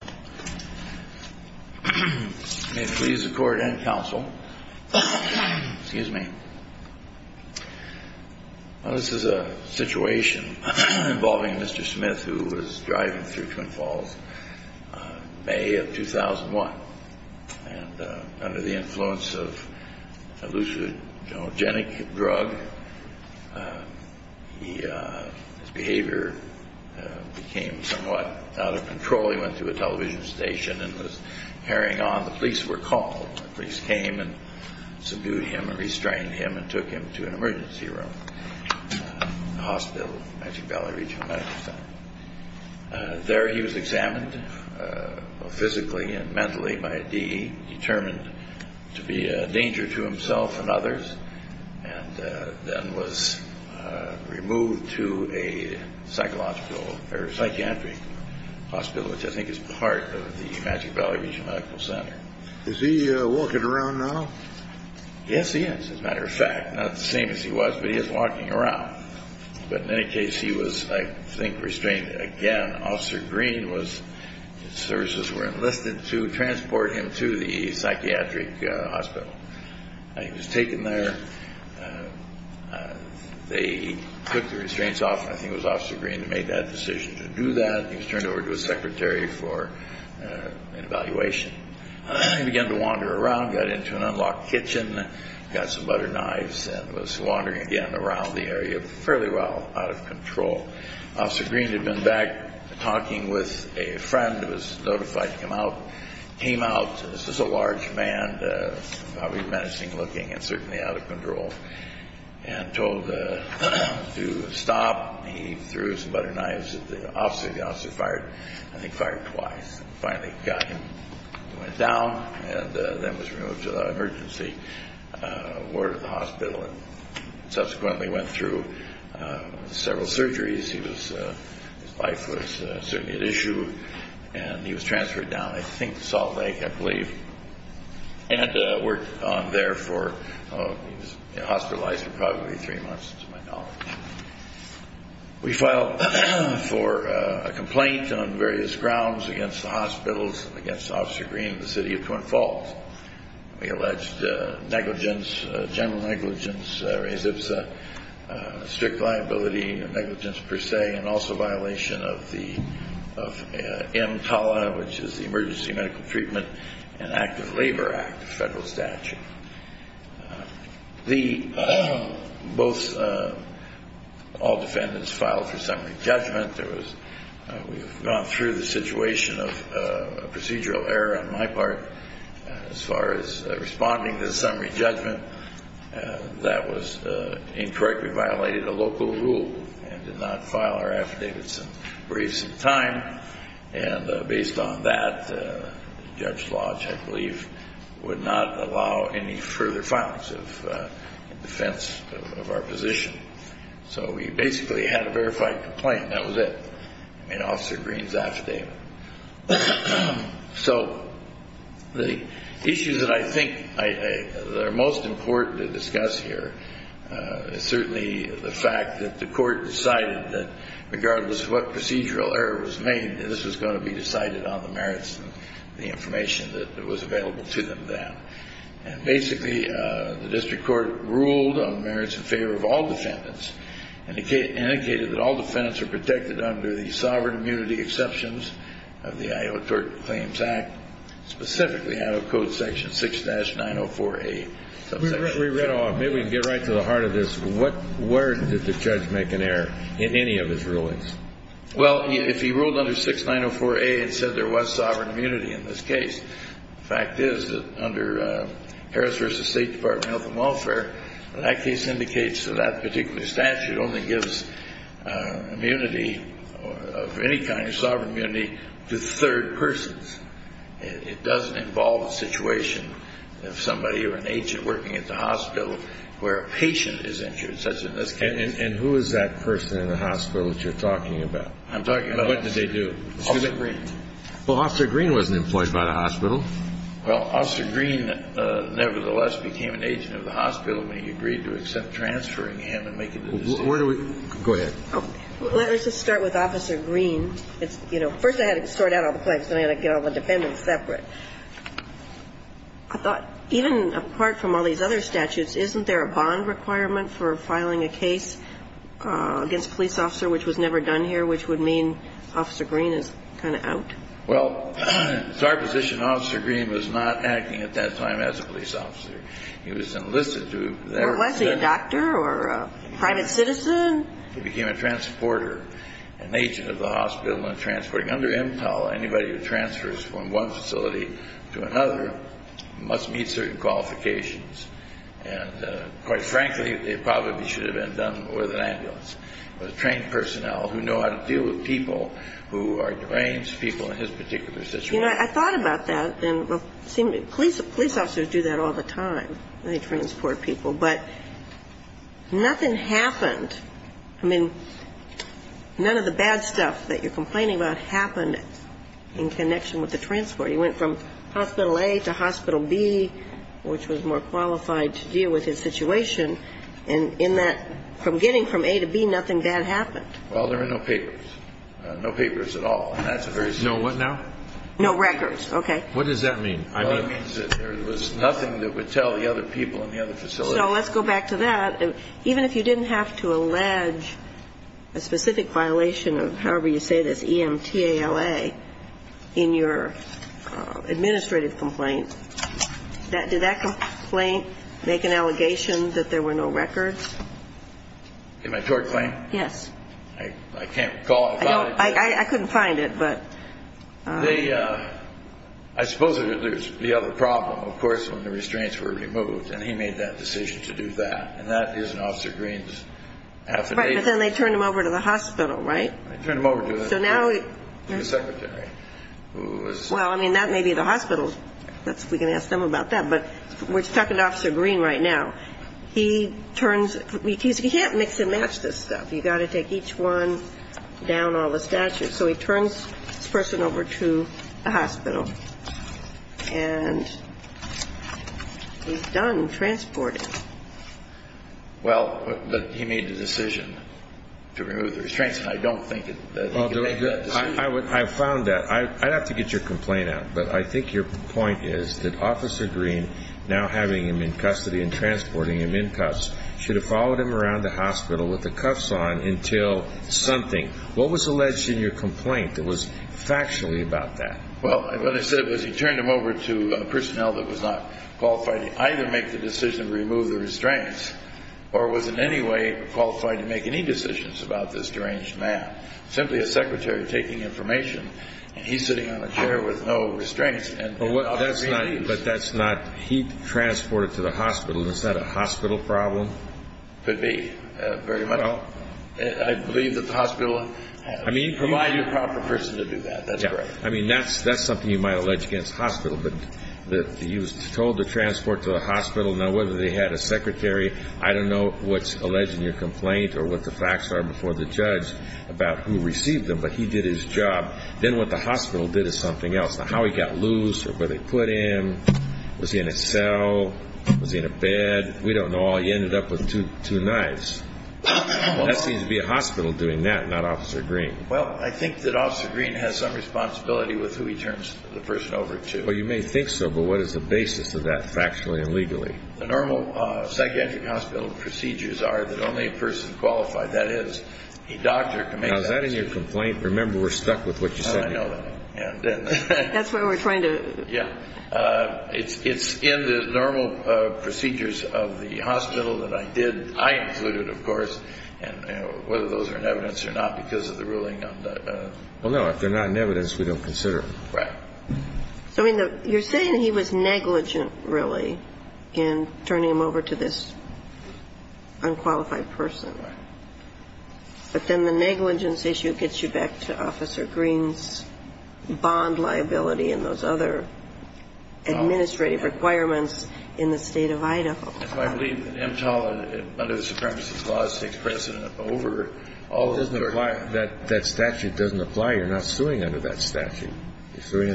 May it please the court and counsel, this is a situation involving Mr. Smith who was driving through Twin Falls in May of 2001 and under the influence of a leucogenic drug, his behavior became somewhat out of control. He probably went to a television station and was carrying on. The police were called. The police came and subdued him and restrained him and took him to an emergency room in the hospital, Magic Valley Regional Medical Center. There he was examined physically and mentally by a DE, determined to be a danger to himself and others, and then was removed to a psychiatric hospital which I think is part of the Magic Valley Regional Medical Center. Is he walking around now? Yes, he is, as a matter of fact. Not the same as he was, but he is walking around. But in any case, he was, I think, restrained again. Officer Green was, his services were enlisted to transport him to the psychiatric hospital. He was taken there. They took the restraints off and I think it was Officer Green who made that decision to do that. He was turned over to a secretary for an evaluation. He began to wander around, got into an unlocked kitchen, got some butter knives and was wandering again around the area fairly well, out of control. Officer Green had been back talking with a friend who was notified to come out, came out. This was a large man, probably menacing looking and certainly out of control, and told to stop. He threw some butter knives at the officer. The officer fired and I think fired twice and finally got him. He went down and then was removed to the emergency ward of the hospital and subsequently went through several surgeries. His life was certainly at issue and he was transferred down, I think, to Salt Lake, I believe, and worked on there for, he was hospitalized for probably three months to my knowledge. We filed for a complaint on various grounds against the hospitals and against Officer Green and the city of Twin Falls. We alleged negligence, general negligence, res ipsa, strict liability, negligence per se, and also violation of the EMTALA, which is the Emergency Medical Treatment and Active Labor Act, a federal statute. The, both, all defendants filed for summary judgment. There was, we've gone through the situation of procedural error on my part as far as responding to the summary judgment. That was incorrectly violated a local rule and did not file our affidavits in briefs in time. And based on that, Judge Lodge, I believe, would not allow any further filings in defense of our position. So we basically had a verified complaint and that was it. I mean, Officer Green's affidavit. So the issues that I think are most important to discuss here is certainly the fact that the court decided that regardless of what procedural error was made, this was going to be decided on the merits and the information that was available to them then. And basically, the district court ruled on merits in favor of all defendants and indicated that all defendants are protected under the sovereign immunity exceptions of the Iowa Court Claims Act, specifically out of Code Section 6-904A. We read all, maybe we can get right to the heart of this. What, where did the judge make an error in any of his rulings? Well, if he ruled under 6-904A and said there was sovereign immunity in this case, the fact is that under Harris v. State Department of Health and Welfare, that case indicates that that particular statute only gives immunity of any kind of sovereign immunity to third persons. It doesn't involve a situation of somebody or an agent working at the hospital where a patient is injured, such as in this case. And who is that person in the hospital that you're talking about? I'm talking about... And what did they do? Officer Green. Well, Officer Green wasn't employed by the hospital. Well, Officer Green nevertheless became an agent of the hospital when he agreed to accept transferring him and making the decision. Where do we... Go ahead. Let me just start with Officer Green. It's, you know, first I had to sort out all the claims, then I had to get all the defendants separate. I thought even apart from all these other statutes, isn't there a bond requirement for filing a case against a police officer, which was never done here, which would mean Officer Green is kind of out? Well, it's our position Officer Green was not acting at that time as a police officer. He was enlisted to... Was he a doctor or a private citizen? He became a transporter, an agent of the hospital and transporting. Under MTAL, anybody who transfers from one facility to another must meet certain qualifications. And quite frankly, they probably should have been done with an ambulance, with trained personnel who know how to deal with people who are deranged, people in his particular situation. You know, I thought about that. Police officers do that all the time. They transport people. But nothing happened. I mean, none of the bad stuff that you're complaining about happened in connection with the transport. He went from Hospital A to Hospital B, which was more qualified to deal with his situation. And in that, from getting from A to B, nothing bad happened. Well, there were no papers. No papers at all. And that's a very... No what now? No records. Okay. What does that mean? It means that there was nothing that would tell the other people in the other facility. So let's go back to that. Even if you didn't have to allege a specific violation of, however you say this, EMTALA, in your administrative complaint, did that complaint make an allegation that there were no records? In my tort claim? Yes. I can't recall about it. I couldn't find it, but... I suppose there's the other problem, of course, when the restraints were removed. And he made that decision to do that. And that is an Officer Green's affidavit. Right. But then they turned him over to the hospital, right? They turned him over to the secretary, who was... Well, I mean, that may be the hospital. We can ask them about that. But we're talking to Officer Green right now. He turns... You can't mix and match this stuff. You've got to take each one down all the statutes. So he turns this person over to the hospital. And he's done transporting. Well, but he made the decision to remove the restraints. And I don't think that he could make that decision. I found that. I'd have to get your complaint out. But I think your point is that Officer Green, now having him in custody and transporting him in cuffs, should have followed him around the hospital with the cuffs on until something. What was alleged in your complaint that was factually about that? Well, what I said was he turned him over to personnel that was not qualified to either make the decision to remove the restraints or was in any way qualified to make any decisions about this deranged man. Simply a secretary taking information, and he's sitting on a chair with no restraints. But that's not... He transported to the hospital. Is that a hospital problem? Could be, very much. I believe that the hospital... Provide your proper person to do that. That's great. I mean, that's something you might allege against hospital. But he was told to transport to a hospital. Now, whether they had a secretary, I don't know what's alleged in your complaint or what the facts are before the judge about who received him. But he did his job. Then what the hospital did is something else. Now, how he got loose or where they put him, was he in a cell, was he in a bed? We don't know all. He ended up with two knives. That seems to be a hospital doing that, not Officer Green. Well, I think that Officer Green has some responsibility with who he turns the person over to. Well, you may think so, but what is the basis of that factually and legally? The normal psychiatric hospital procedures are that only a person qualified, that is, a doctor, can make that decision. Now, is that in your complaint? Remember, we're stuck with what you said. I know that. That's what we're trying to... Yeah. It's in the normal procedures of the hospital that I did, I included, of course, and whether those are in evidence or not because of the ruling on the... Well, no, if they're not in evidence, we don't consider them. Right. So, I mean, you're saying he was negligent, really, in turning him over to this unqualified person. Right. But then the negligence issue gets you back to Officer Green's bond liability and those other administrative requirements in the State of Idaho. That's why I believe that EMTAL, under the Supremacy Clause, takes precedent over all... It doesn't apply. That statute doesn't apply. You're not suing under that statute. You're suing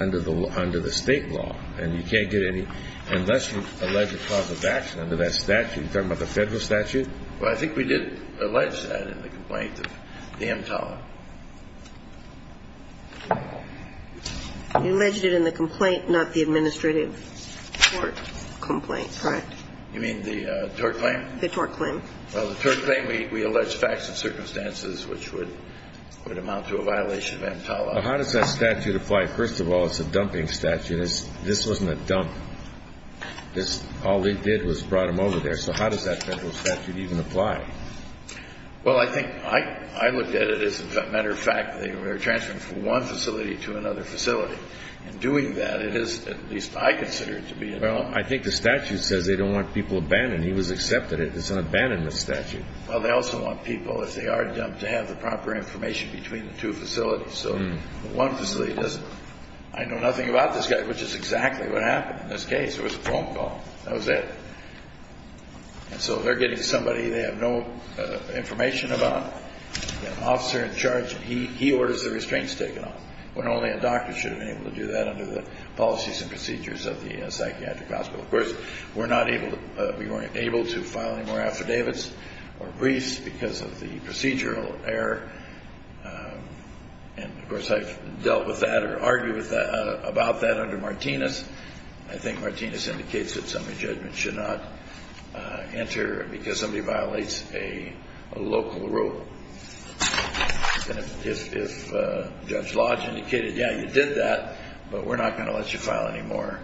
under the State law, and you can't get any... unless you allege a cause of action under that statute. Are you talking about the Federal statute? Well, I think we did allege that in the complaint, the EMTAL. You alleged it in the complaint, not the administrative tort complaint. Correct. You mean the tort claim? The tort claim. Well, the tort claim, we allege facts and circumstances which would amount to a violation of EMTAL. How does that statute apply? First of all, it's a dumping statute. This wasn't a dump. All we did was brought him over there. So how does that Federal statute even apply? Well, I think I looked at it as, as a matter of fact, they were transferring from one facility to another facility. In doing that, it is, at least I consider it to be... Well, I think the statute says they don't want people abandoned. He was accepted. It's an abandonment statute. Well, they also want people, if they are dumped, to have the proper information between the two facilities. So one facility doesn't. I know nothing about this guy, which is exactly what happened in this case. It was a phone call. That was it. And so they're getting somebody they have no information about. The officer in charge, he orders the restraints taken off, when only a doctor should have been able to do that under the policies and procedures of the psychiatric hospital. Of course, we're not able to file any more affidavits or briefs because of the procedural error. And, of course, I've dealt with that or argued about that under Martinez. I think Martinez indicates that somebody's judgment should not enter because somebody violates a local rule. And if Judge Lodge indicated, yeah, you did that, but we're not going to let you file any more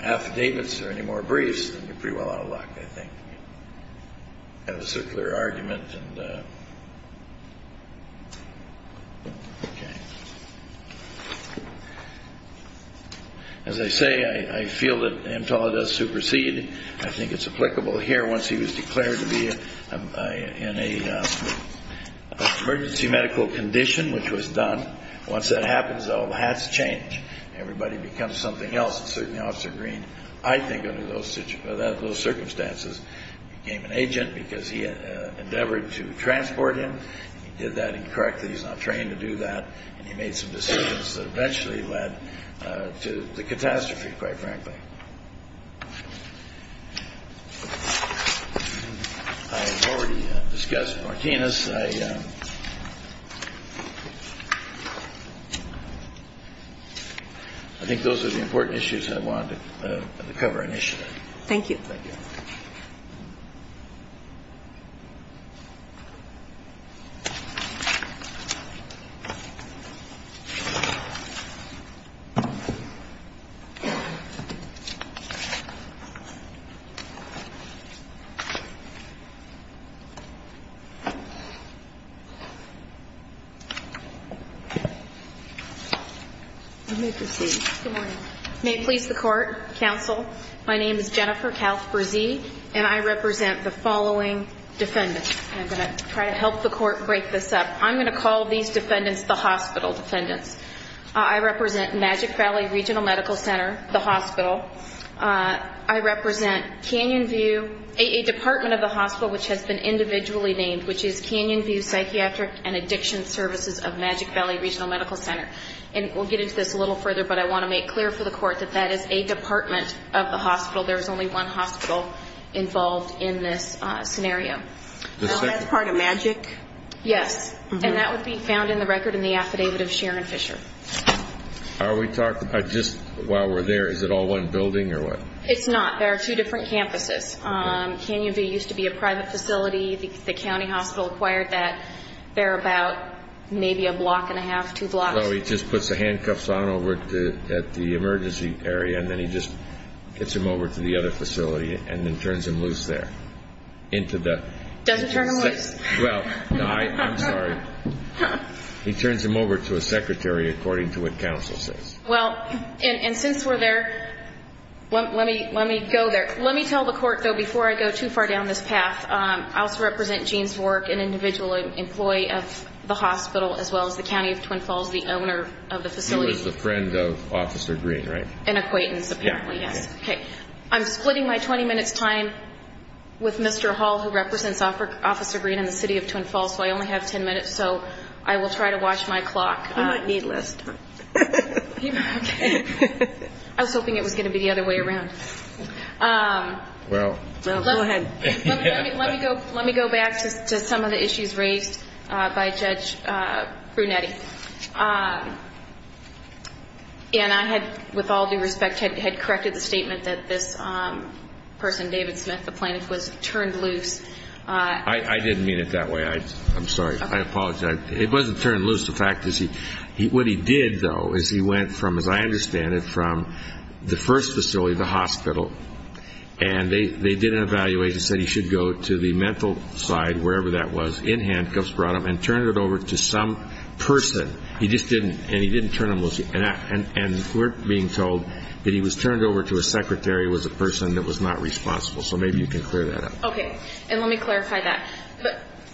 affidavits or any more briefs, then you're pretty well out of luck, I think. I have a circular argument. Okay. As I say, I feel that Amtala does supersede. I think it's applicable here. Once he was declared to be in an emergency medical condition, which was done, once that happens, all the hats change. Everybody becomes something else. And certainly Officer Green, I think under those circumstances, became an agent because he endeavored to transport him. He did that incorrectly. He's not trained to do that. And he made some decisions that eventually led to the catastrophe, quite frankly. I've already discussed Martinez. I think those are the important issues I wanted to cover initially. Thank you. Thank you. You may proceed. Good morning. May it please the Court, Counsel, my name is Jennifer Kalfberzee, and I represent the following defendants. I'm going to try to help the Court break this up. I'm going to call these defendants the hospital defendants. I represent Magic Valley Regional Medical Center, the hospital. I represent Canyon View, a department of the hospital which has been individually named, which is Canyon View Psychiatric and Addiction Services of Magic Valley Regional Medical Center. And we'll get into this a little further, but I want to make clear for the Court that that is a department of the hospital. There is only one hospital involved in this scenario. That's part of Magic? Yes, and that would be found in the record in the affidavit of Sharon Fisher. Are we talking about just while we're there, is it all one building or what? It's not. There are two different campuses. Canyon View used to be a private facility. The county hospital acquired that. They're about maybe a block and a half, two blocks. Well, he just puts the handcuffs on over at the emergency area, and then he just gets them over to the other facility and then turns them loose there. Doesn't turn them loose. Well, I'm sorry. He turns them over to a secretary, according to what Counsel says. Well, and since we're there, let me go there. Let me tell the Court, though, before I go too far down this path, I also represent Gene Svork, an individual employee of the hospital, as well as the county of Twin Falls, the owner of the facility. He was a friend of Officer Green, right? An acquaintance, apparently, yes. Okay. I'm splitting my 20 minutes' time with Mr. Hall, who represents Officer Green and the city of Twin Falls, so I only have 10 minutes. So I will try to watch my clock. You might need less time. I was hoping it was going to be the other way around. Well, go ahead. Let me go back to some of the issues raised by Judge Brunetti. And I had, with all due respect, had corrected the statement that this person, David Smith, the plaintiff, was turned loose. I didn't mean it that way. I'm sorry. I apologize. It wasn't turned loose. The fact is, what he did, though, is he went from, as I understand it, from the first facility, the hospital, and they did an evaluation, said he should go to the mental side, wherever that was, in handcuffs, brought him, and turned it over to some person. He just didn't, and he didn't turn him loose. And we're being told that he was turned over to a secretary who was a person that was not responsible. So maybe you can clear that up. Okay. And let me clarify that.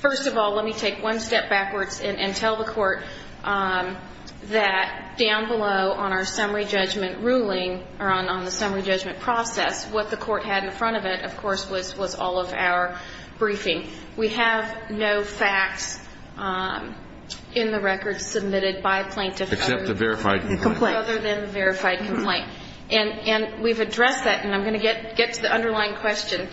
First of all, let me take one step backwards and tell the Court that down below, on our summary judgment ruling, or on the summary judgment process, what the Court had in front of it, of course, was all of our briefing. We have no facts in the record submitted by a plaintiff other than the verified complaint. Except the verified complaint. Other than the verified complaint. And we've addressed that, and I'm going to get to the underlying question.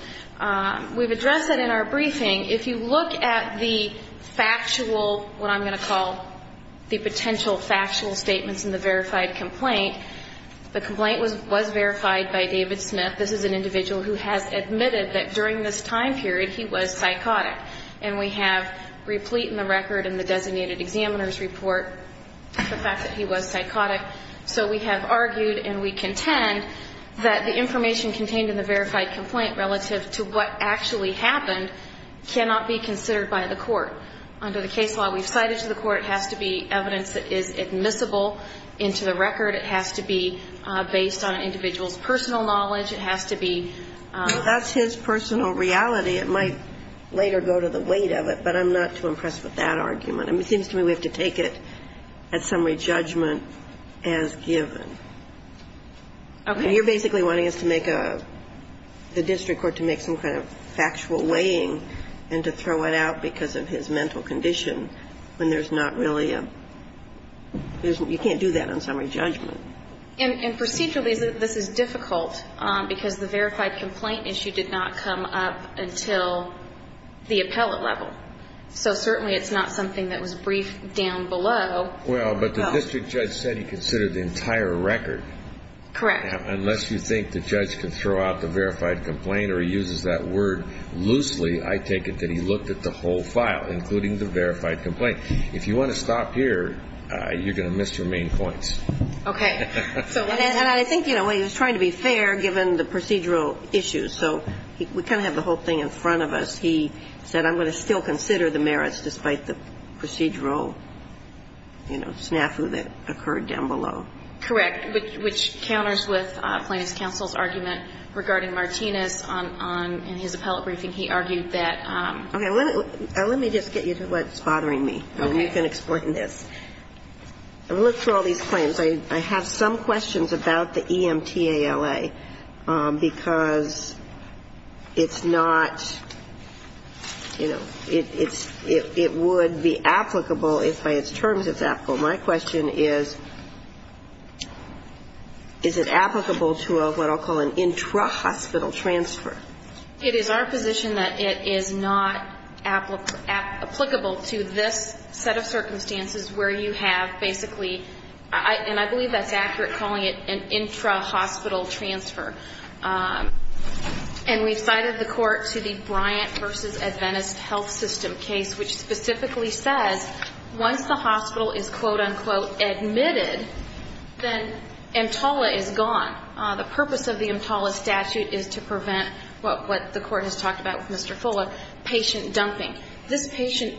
We've addressed that in our briefing. If you look at the factual, what I'm going to call the potential factual statements in the verified complaint, the complaint was verified by David Smith. This is an individual who has admitted that during this time period he was psychotic. And we have replete in the record in the designated examiner's report the fact that he was psychotic. So we have argued and we contend that the information contained in the verified complaint relative to what actually happened cannot be considered by the Court. Under the case law we've cited to the Court, it has to be evidence that is admissible into the record. It has to be based on an individual's personal knowledge. It has to be. That's his personal reality. It might later go to the weight of it, but I'm not too impressed with that argument. It seems to me we have to take it at summary judgment as given. Okay. You're basically wanting us to make a, the district court to make some kind of factual weighing and to throw it out because of his mental condition when there's not really a, you can't do that on summary judgment. And procedurally this is difficult because the verified complaint issue did not come up until the appellate level. So certainly it's not something that was briefed down below. Well, but the district judge said he considered the entire record. Correct. Unless you think the judge can throw out the verified complaint or he uses that word loosely, I take it that he looked at the whole file, including the verified complaint. If you want to stop here, you're going to miss your main points. Okay. And I think, you know, he was trying to be fair given the procedural issues. So we kind of have the whole thing in front of us. He said, I'm going to still consider the merits despite the procedural, you know, snafu that occurred down below. Correct. Which counters with Plaintiff's counsel's argument regarding Martinez on his appellate briefing. He argued that. Okay. Let me just get you to what's bothering me. Okay. And you can explain this. I looked through all these claims. I have some questions about the EMTALA because it's not, you know, it would be applicable if by its terms it's applicable. My question is, is it applicable to what I'll call an intra-hospital transfer? It is our position that it is not applicable to this set of circumstances where you have basically, and I believe that's accurate, calling it an intra-hospital transfer. And we've cited the court to the Bryant v. Adventist Health System case, which specifically says once the hospital is, quote, unquote, admitted, then EMTALA is gone. The purpose of the EMTALA statute is to prevent what the court has talked about with Mr. Fuller, patient dumping. This patient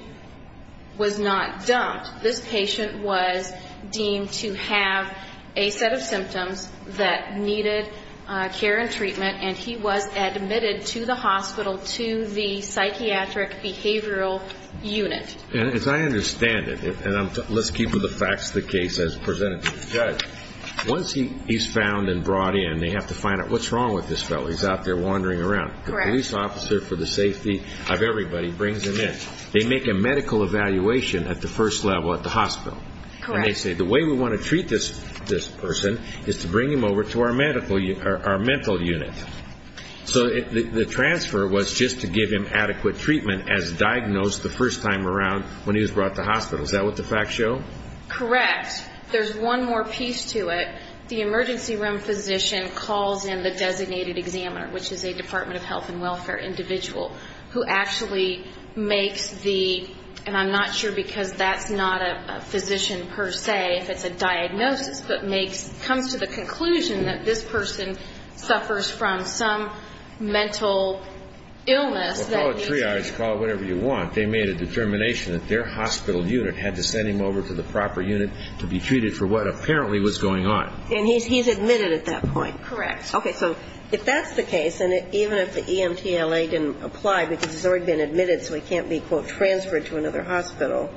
was not dumped. This patient was deemed to have a set of symptoms that needed care and treatment, and he was admitted to the hospital to the psychiatric behavioral unit. As I understand it, and let's keep with the facts of the case as presented to the judge, once he's found and brought in, they have to find out what's wrong with this fellow. He's out there wandering around. Correct. The police officer for the safety of everybody brings him in. They make a medical evaluation at the first level at the hospital. Correct. And they say the way we want to treat this person is to bring him over to our mental unit. So the transfer was just to give him adequate treatment as diagnosed the first time around when he was brought to hospital. Is that what the facts show? Correct. There's one more piece to it. The emergency room physician calls in the designated examiner, which is a Department of Health and Welfare individual, who actually makes the, and I'm not sure because that's not a physician per se, if it's a diagnosis, but comes to the hospital and suffers from some mental illness. Well, call it triage, call it whatever you want. They made a determination that their hospital unit had to send him over to the proper unit to be treated for what apparently was going on. And he's admitted at that point. Correct. Okay. So if that's the case, and even if the EMTLA didn't apply because he's already been admitted so he can't be, quote, transferred to another hospital,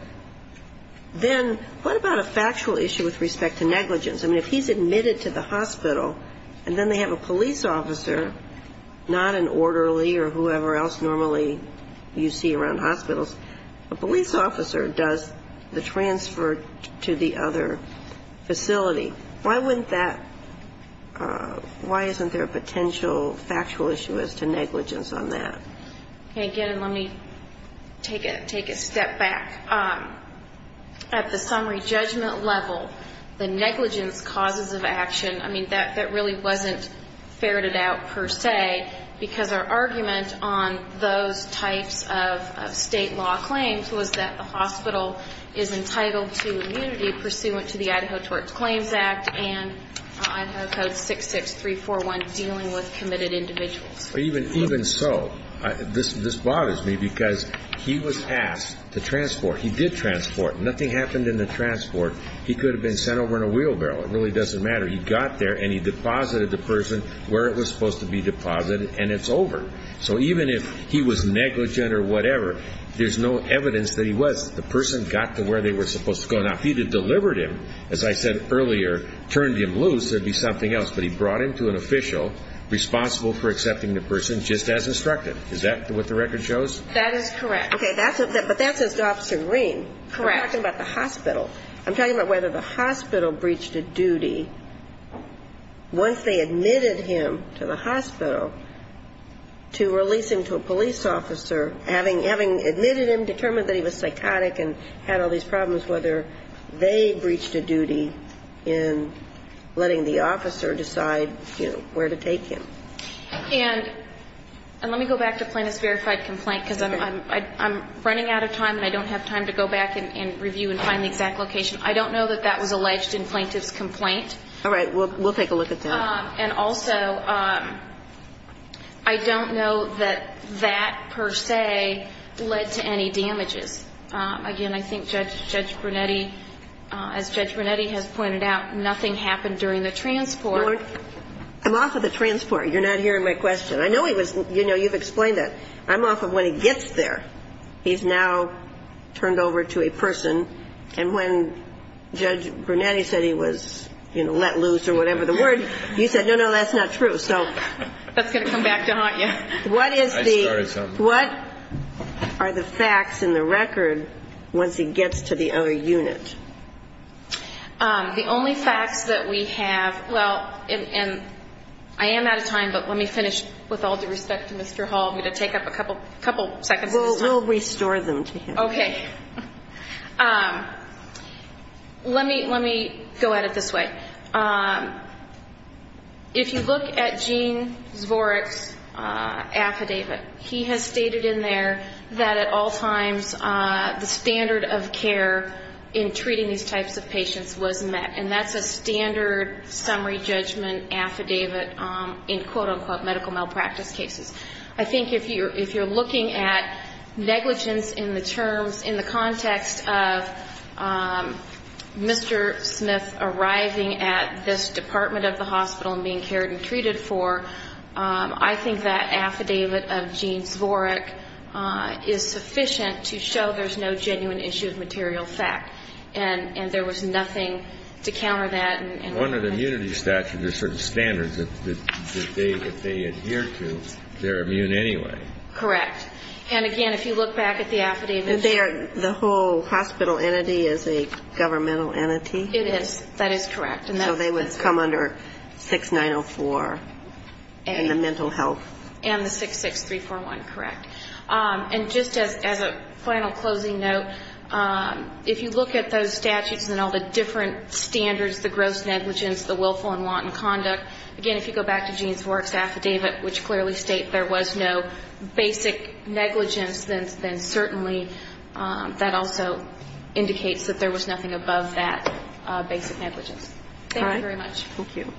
then what about a factual issue with respect to negligence? I mean, if he's admitted to the hospital and then they have a police officer, not an orderly or whoever else normally you see around hospitals, a police officer does the transfer to the other facility. Why wouldn't that, why isn't there a potential factual issue as to negligence on that? Okay. Again, let me take a step back. At the summary judgment level, the negligence causes of action, I mean, that really wasn't ferreted out per se, because our argument on those types of state law claims was that the hospital is entitled to immunity pursuant to the Idaho Tort Claims Act and Idaho Code 66341 dealing with committed individuals. Even so, this bothers me because he was asked to transport. He did transport. Nothing happened in the transport. He could have been sent over in a wheelbarrow. It really doesn't matter. He got there and he deposited the person where it was supposed to be deposited and it's over. So even if he was negligent or whatever, there's no evidence that he was. The person got to where they were supposed to go. Now, if he had delivered him, as I said earlier, turned him loose, there'd be something else. But he brought him to an official responsible for accepting the person just as instructed. Is that what the record shows? That is correct. Okay. But that says to Officer Green. Correct. I'm talking about the hospital. I'm talking about whether the hospital breached a duty once they admitted him to the hospital to release him to a police officer, having admitted him, determined that he was psychotic and had all these problems, whether they breached a duty in letting the officer decide, you know, where to take him. And let me go back to plaintiff's verified complaint, because I'm running out of time and I don't have time to go back and review and find the exact location. I don't know that that was alleged in plaintiff's complaint. All right. We'll take a look at that. And also, I don't know that that, per se, led to any damages. Again, I think Judge Brunetti, as Judge Brunetti has pointed out, nothing happened during the transport. I'm off of the transport. You're not hearing my question. I know he was, you know, you've explained that. I'm off of when he gets there. He's now turned over to a person. And when Judge Brunetti said he was, you know, let loose or whatever the word, you said, no, no, that's not true. That's going to come back to haunt you. What are the facts in the record once he gets to the other unit? The only facts that we have, well, and I am out of time, but let me finish with all due respect to Mr. Hall. I'm going to take up a couple seconds of his time. We'll restore them to him. Okay. Let me go at it this way. If you look at Gene Zvorek's affidavit, he has stated in there that at all times the standard of care in treating these types of patients was met. And that's a standard summary judgment affidavit in, quote-unquote, medical malpractice cases. I think if you're looking at negligence in the terms, in the context of Mr. Smith arriving at this department of the hospital and being cared and treated for, I think that would show there's no genuine issue of material fact. And there was nothing to counter that. One of the immunity statutes or certain standards that they adhere to, they're immune anyway. Correct. And again, if you look back at the affidavit. The whole hospital entity is a governmental entity? It is. That is correct. So they would come under 6904 in the mental health. And the 66341, correct. And just as a final closing note, if you look at those statutes and all the different standards, the gross negligence, the willful and wanton conduct, again, if you go back to Gene Zvorek's affidavit, which clearly states there was no basic negligence, then certainly that also indicates that there was nothing above that basic negligence. Thank you very much. Thank you.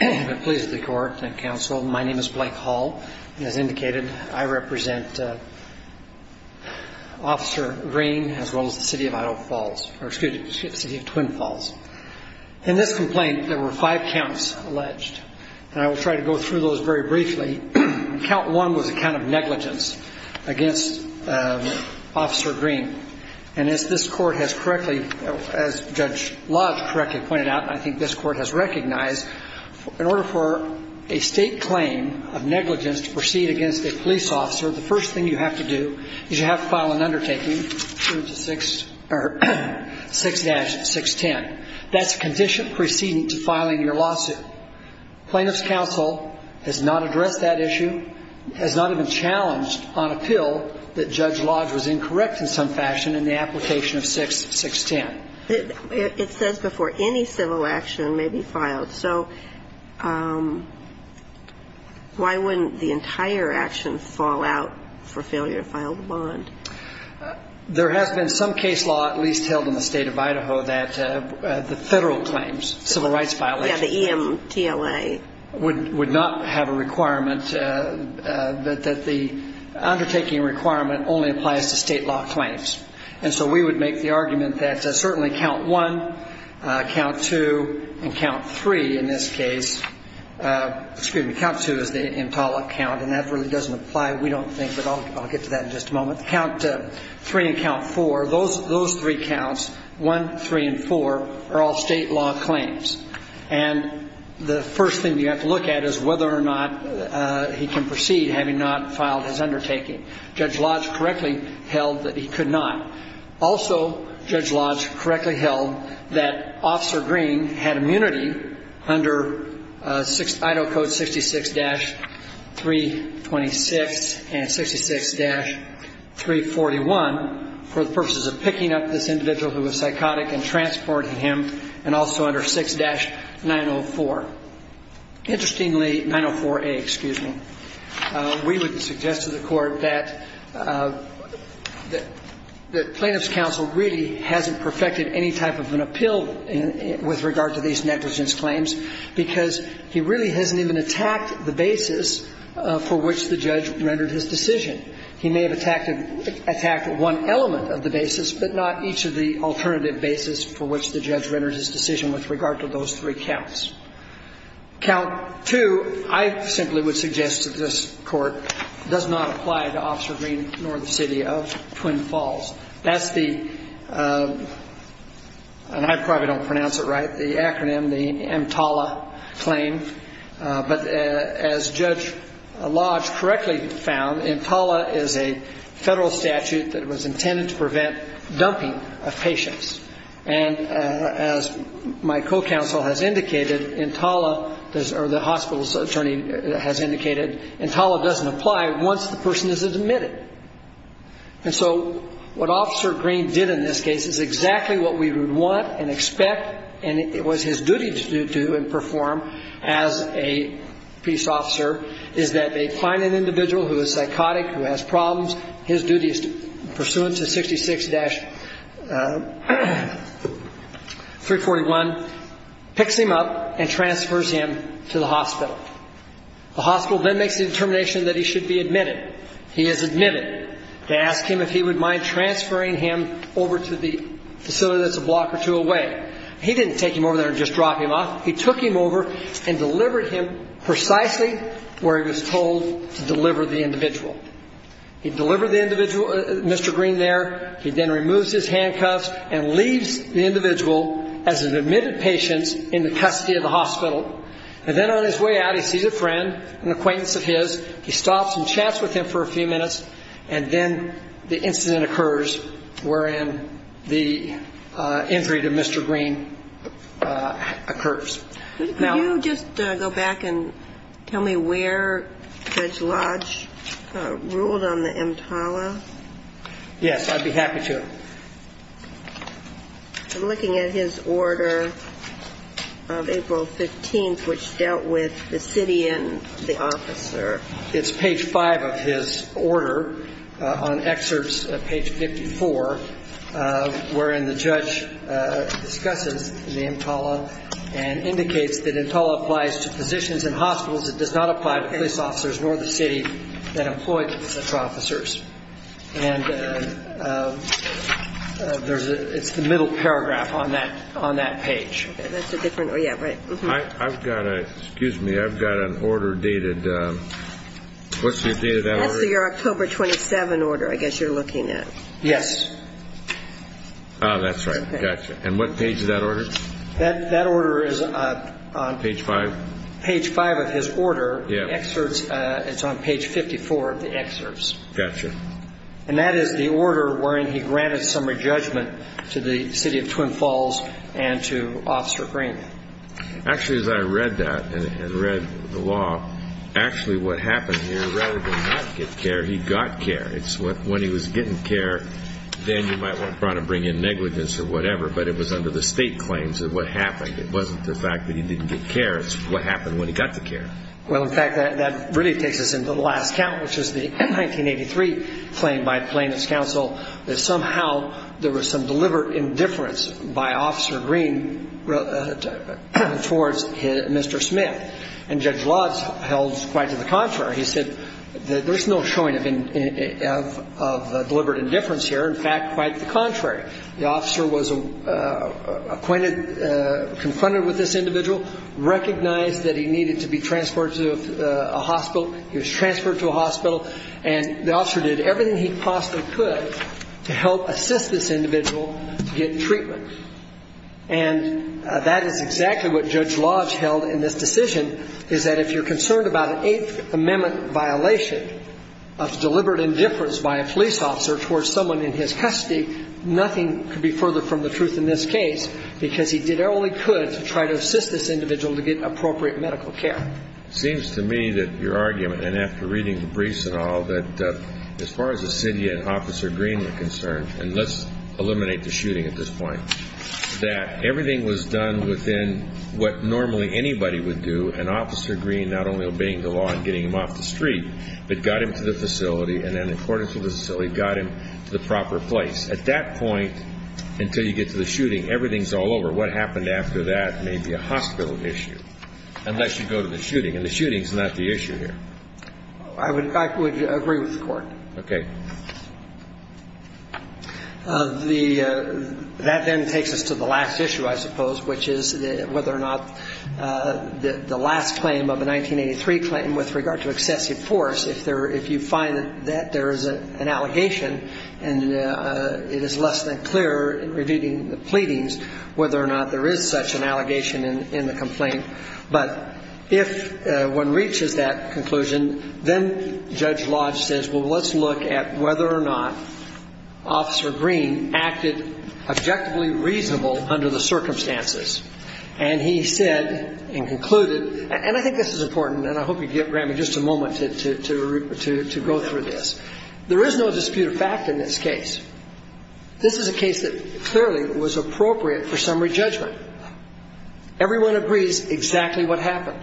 I'm pleased to be court and counsel. My name is Blake Hall. And as indicated, I represent Officer Green as well as the City of Twin Falls. In this complaint, there were five counts alleged. And I will try to go through those very briefly. Count one was a count of negligence against Officer Green. And as this court has correctly, as Judge Lodge correctly pointed out, and I think this court has recognized, in order for a state claim of negligence to proceed against a police officer, the first thing you have to do is you have to file an undertaking, 6-610. That's a condition preceding to filing your lawsuit. Plaintiff's counsel has not addressed that issue, has not even challenged on appeal that Judge Lodge was incorrect in some fashion in the application of 6-610. It says before any civil action may be filed. So why wouldn't the entire action fall out for failure to file the bond? There has been some case law at least held in the State of Idaho that the federal claims, civil rights violations. Yeah, the EMTLA. Would not have a requirement that the undertaking requirement only applies to state law claims. And so we would make the argument that certainly count one, count two, and count three in this case. Excuse me, count two is the Entala count, and that really doesn't apply, we don't think, but I'll get to that in just a moment. Count three and count four, those three counts, one, three, and four, are all state law claims. And the first thing you have to look at is whether or not he can proceed having not filed his undertaking. Judge Lodge correctly held that he could not. Also, Judge Lodge correctly held that Officer Green had immunity under Idaho Code 66-326 and 66-341 for the purposes of picking up this individual who was psychotic and transporting him, and also under 6-904. Interestingly, 904A, excuse me, we would suggest to the Court that the Plaintiffs' Counsel really hasn't perfected any type of an appeal with regard to these negligence claims because he really hasn't even attacked the basis for which the judge rendered his decision. He may have attacked one element of the basis, but not each of the alternative basis for which the judge rendered his decision with regard to those three counts. Count two, I simply would suggest to this Court, does not apply to Officer Green nor the city of Twin Falls. That's the, and I probably don't pronounce it right, the acronym, the Entala claim. But as Judge Lodge correctly found, Entala is a federal statute that was intended to prevent dumping of patients. And as my co-counsel has indicated, Entala, or the hospital's attorney has indicated, Entala doesn't apply once the person is admitted. And so what Officer Green did in this case is exactly what we would want and expect, and it was his duty to do and perform as a peace officer, is that they find an individual who is psychotic, who has problems. His duty is to, pursuant to 66-341, picks him up and transfers him to the hospital. The hospital then makes the determination that he should be admitted. He is admitted. They ask him if he would mind transferring him over to the facility that's a block or two away. He didn't take him over there and just drop him off. He took him over and delivered him precisely where he was told to deliver the individual. He delivered the individual, Mr. Green, there. He then removes his handcuffs and leaves the individual as an admitted patient in the custody of the hospital. And then on his way out, he sees a friend, an acquaintance of his. He stops and chats with him for a few minutes, and then the incident occurs wherein the injury to Mr. Green occurs. Could you just go back and tell me where Judge Lodge ruled on the EMTALA? Yes, I'd be happy to. I'm looking at his order of April 15th, which dealt with the city and the officer. It's page 5 of his order on excerpts, page 54, wherein the judge discusses the EMTALA and indicates that EMTALA applies to physicians and hospitals. It does not apply to police officers nor the city that employed such officers. And it's the middle paragraph on that page. That's a different order. Excuse me, I've got an order dated, what's the date of that order? That's your October 27 order I guess you're looking at. Yes. That's right. And what page is that order? That order is on page 5 of his order. It's on page 54 of the excerpts. And that is the order wherein he granted summary judgment to the city of Twin Falls and to Officer Green. Actually, as I read that and read the law, actually what happened here, rather than not get care, he got care. When he was getting care, then you might want to try to bring in negligence or whatever, but it was under the state claims that what happened. It wasn't the fact that he didn't get care. It's what happened when he got the care. Well, in fact, that really takes us into the last count, which is the 1983 claim by Plaintiffs' Counsel that somehow there was some deliberate indifference by Officer Green towards Mr. Smith. And Judge Lotz held quite to the contrary. He said there's no showing of deliberate indifference here. In fact, quite the contrary. The officer was acquainted, confronted with this individual, recognized that he needed to be transported to a hospital. He was transferred to a hospital, and the officer did everything he possibly could to help assist this individual to get treatment. And that is exactly what Judge Lotz held in this decision, is that if you're concerned about an Eighth Amendment violation of deliberate indifference by a police officer towards someone in his custody, nothing could be further from the truth in this case because he did all he could to try to assist this individual to get appropriate medical care. It seems to me that your argument, and after reading the briefs and all, that as far as the city and Officer Green were concerned, and let's eliminate the shooting at this point, that everything was done within what normally anybody would do, and Officer Green not only obeying the law and getting him off the street, but got him to the facility, and then, according to the facility, got him to the proper place. At that point, until you get to the shooting, everything's all over. What happened after that may be a hospital issue, unless you go to the shooting. And the shooting's not the issue here. I would agree with the Court. Okay. That then takes us to the last issue, I suppose, which is whether or not the last claim of the 1983 claim with regard to excessive force, if you find that there is an allegation and it is less than clear in reviewing the pleadings whether or not there is such an allegation in the complaint. But if one reaches that conclusion, then Judge Lodge says, well, let's look at whether or not Officer Green acted objectively reasonable under the circumstances. And he said and concluded, and I think this is important, and I hope you grant me just a moment to go through this. There is no dispute of fact in this case. This is a case that clearly was appropriate for summary judgment. Everyone agrees exactly what happened.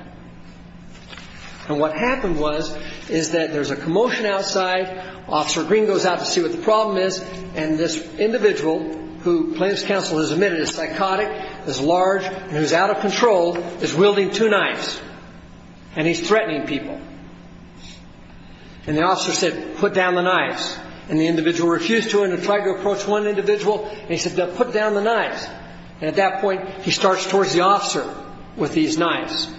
And what happened was is that there's a commotion outside. Officer Green goes out to see what the problem is, and this individual who plaintiff's counsel has admitted is psychotic, is large, and who's out of control is wielding two knives, and he's threatening people. And the officer said, put down the knives. And the individual refused to, and he tried to approach one individual, and he said, put down the knives. And at that point, he starts towards the officer with these knives.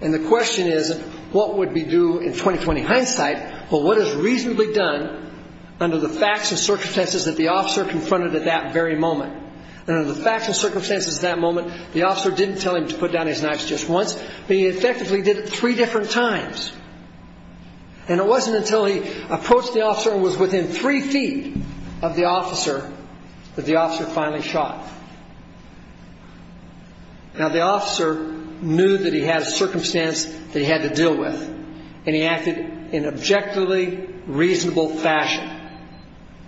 And the question is, what would be due in 20-20 hindsight, but what is reasonably done under the facts and circumstances that the officer confronted at that very moment? And under the facts and circumstances at that moment, the officer didn't tell him to put down his knives just once, but he effectively did it three different times. And it wasn't until he approached the officer and was within three feet of the officer that the officer finally shot. Now, the officer knew that he had a circumstance that he had to deal with, and he acted in objectively reasonable fashion.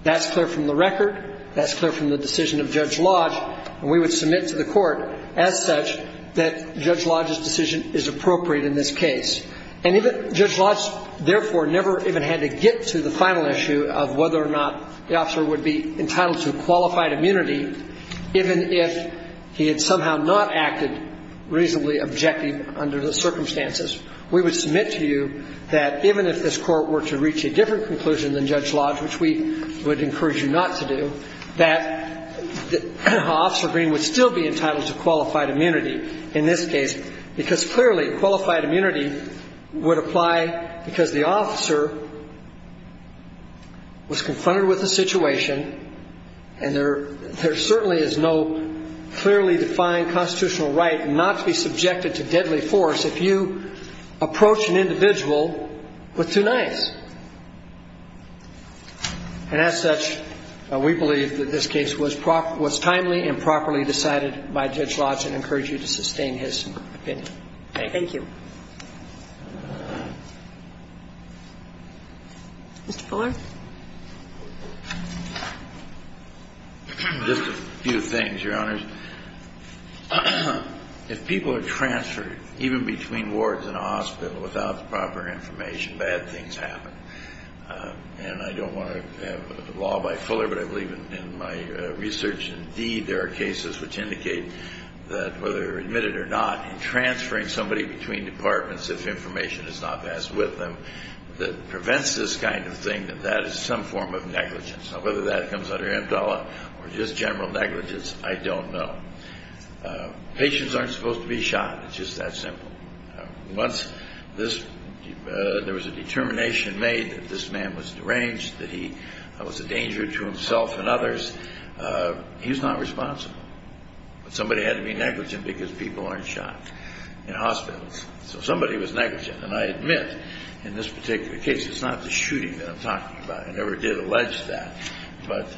That's clear from the record. That's clear from the decision of Judge Lodge. And we would submit to the Court as such that Judge Lodge's decision is appropriate in this case. And even Judge Lodge therefore never even had to get to the final issue of whether or not the officer would be entitled to qualified immunity, even if he had somehow not acted reasonably objective under the circumstances. We would submit to you that even if this Court were to reach a different conclusion than Judge Lodge, which we would encourage you not to do, that Officer Green would still be entitled to qualified immunity in this case because clearly qualified immunity would apply because the officer was confronted with a situation and there certainly is no clearly defined constitutional right not to be subjected to deadly force if you approach an individual with two knives. And as such, we believe that this case was timely and properly decided by Judge Lodge and encourage you to sustain his opinion. Thank you. Thank you. Mr. Fuller. Just a few things, Your Honors. First, if people are transferred even between wards in a hospital without the proper information, bad things happen. And I don't want to have a law by Fuller, but I believe in my research indeed there are cases which indicate that whether they're admitted or not, transferring somebody between departments if information is not passed with them, that prevents this kind of thing that that is some form of negligence. Now whether that comes under MDALA or just general negligence, I don't know. Patients aren't supposed to be shot. It's just that simple. Once there was a determination made that this man was deranged, that he was a danger to himself and others, he's not responsible. But somebody had to be negligent because people aren't shot in hospitals. So somebody was negligent. And I admit in this particular case, it's not the shooting that I'm talking about. I never did allege that. But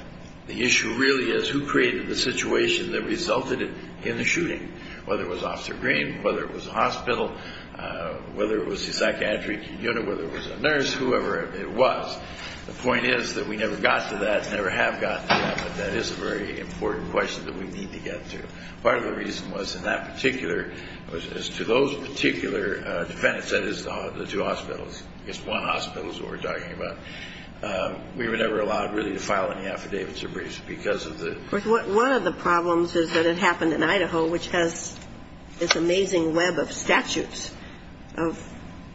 the issue really is who created the situation that resulted in the shooting, whether it was Officer Green, whether it was a hospital, whether it was the psychiatry unit, whether it was a nurse, whoever it was. The point is that we never got to that, never have gotten to that, but that is a very important question that we need to get to. Part of the reason was in that particular, was to those particular defendants, that is the two hospitals, I guess one hospital is what we're talking about. We were never allowed really to file any affidavits or briefs because of the. One of the problems is that it happened in Idaho, which has this amazing web of statutes of.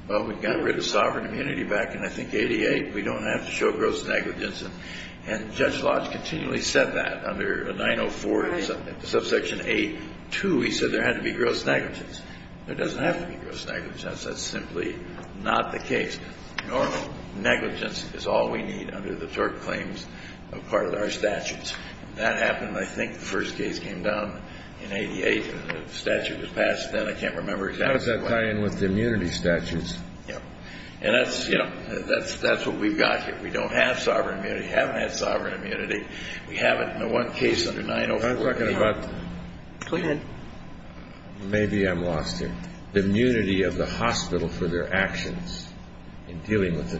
Well, we got rid of sovereign immunity back in, I think, 88. We don't have to show gross negligence. And Judge Lodge continually said that under 904, subsection A2, he said there had to be gross negligence. There doesn't have to be gross negligence. That's simply not the case. Normal negligence is all we need under the TURP claims of part of our statutes. That happened, I think, the first case came down in 88. The statute was passed then. I can't remember exactly. How does that tie in with the immunity statutes? Yeah. And that's, you know, that's what we've got here. We don't have sovereign immunity. We haven't had sovereign immunity. We haven't in the one case under 904. I was talking about. Clean it. Maybe I'm lost here. The immunity of the hospital for their actions in dealing with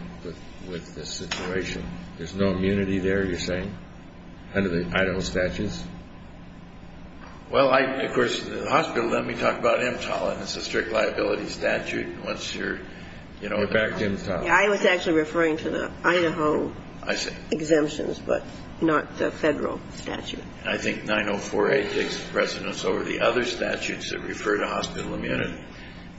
the situation. There's no immunity there, you're saying, under the Idaho statutes? Well, I, of course, the hospital, let me talk about MTAL. It's a strict liability statute. And once you're, you know. We're back to MTAL. I was actually referring to the Idaho. I see. Exemptions, but not the Federal statute. I think 904A takes precedence over the other statutes that refer to hospital immunity.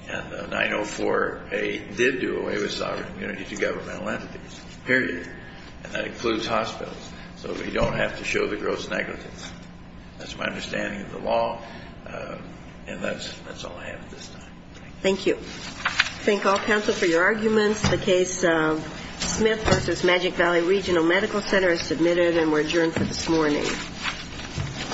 And the 904A did do away with sovereign immunity to governmental entities. Period. And that includes hospitals. So we don't have to show the gross negligence. That's my understanding of the law. And that's all I have at this time. Thank you. Thank all counsel for your arguments. The case of Smith v. Magic Valley Regional Medical Center is submitted and we're adjourned for this morning. Thank you.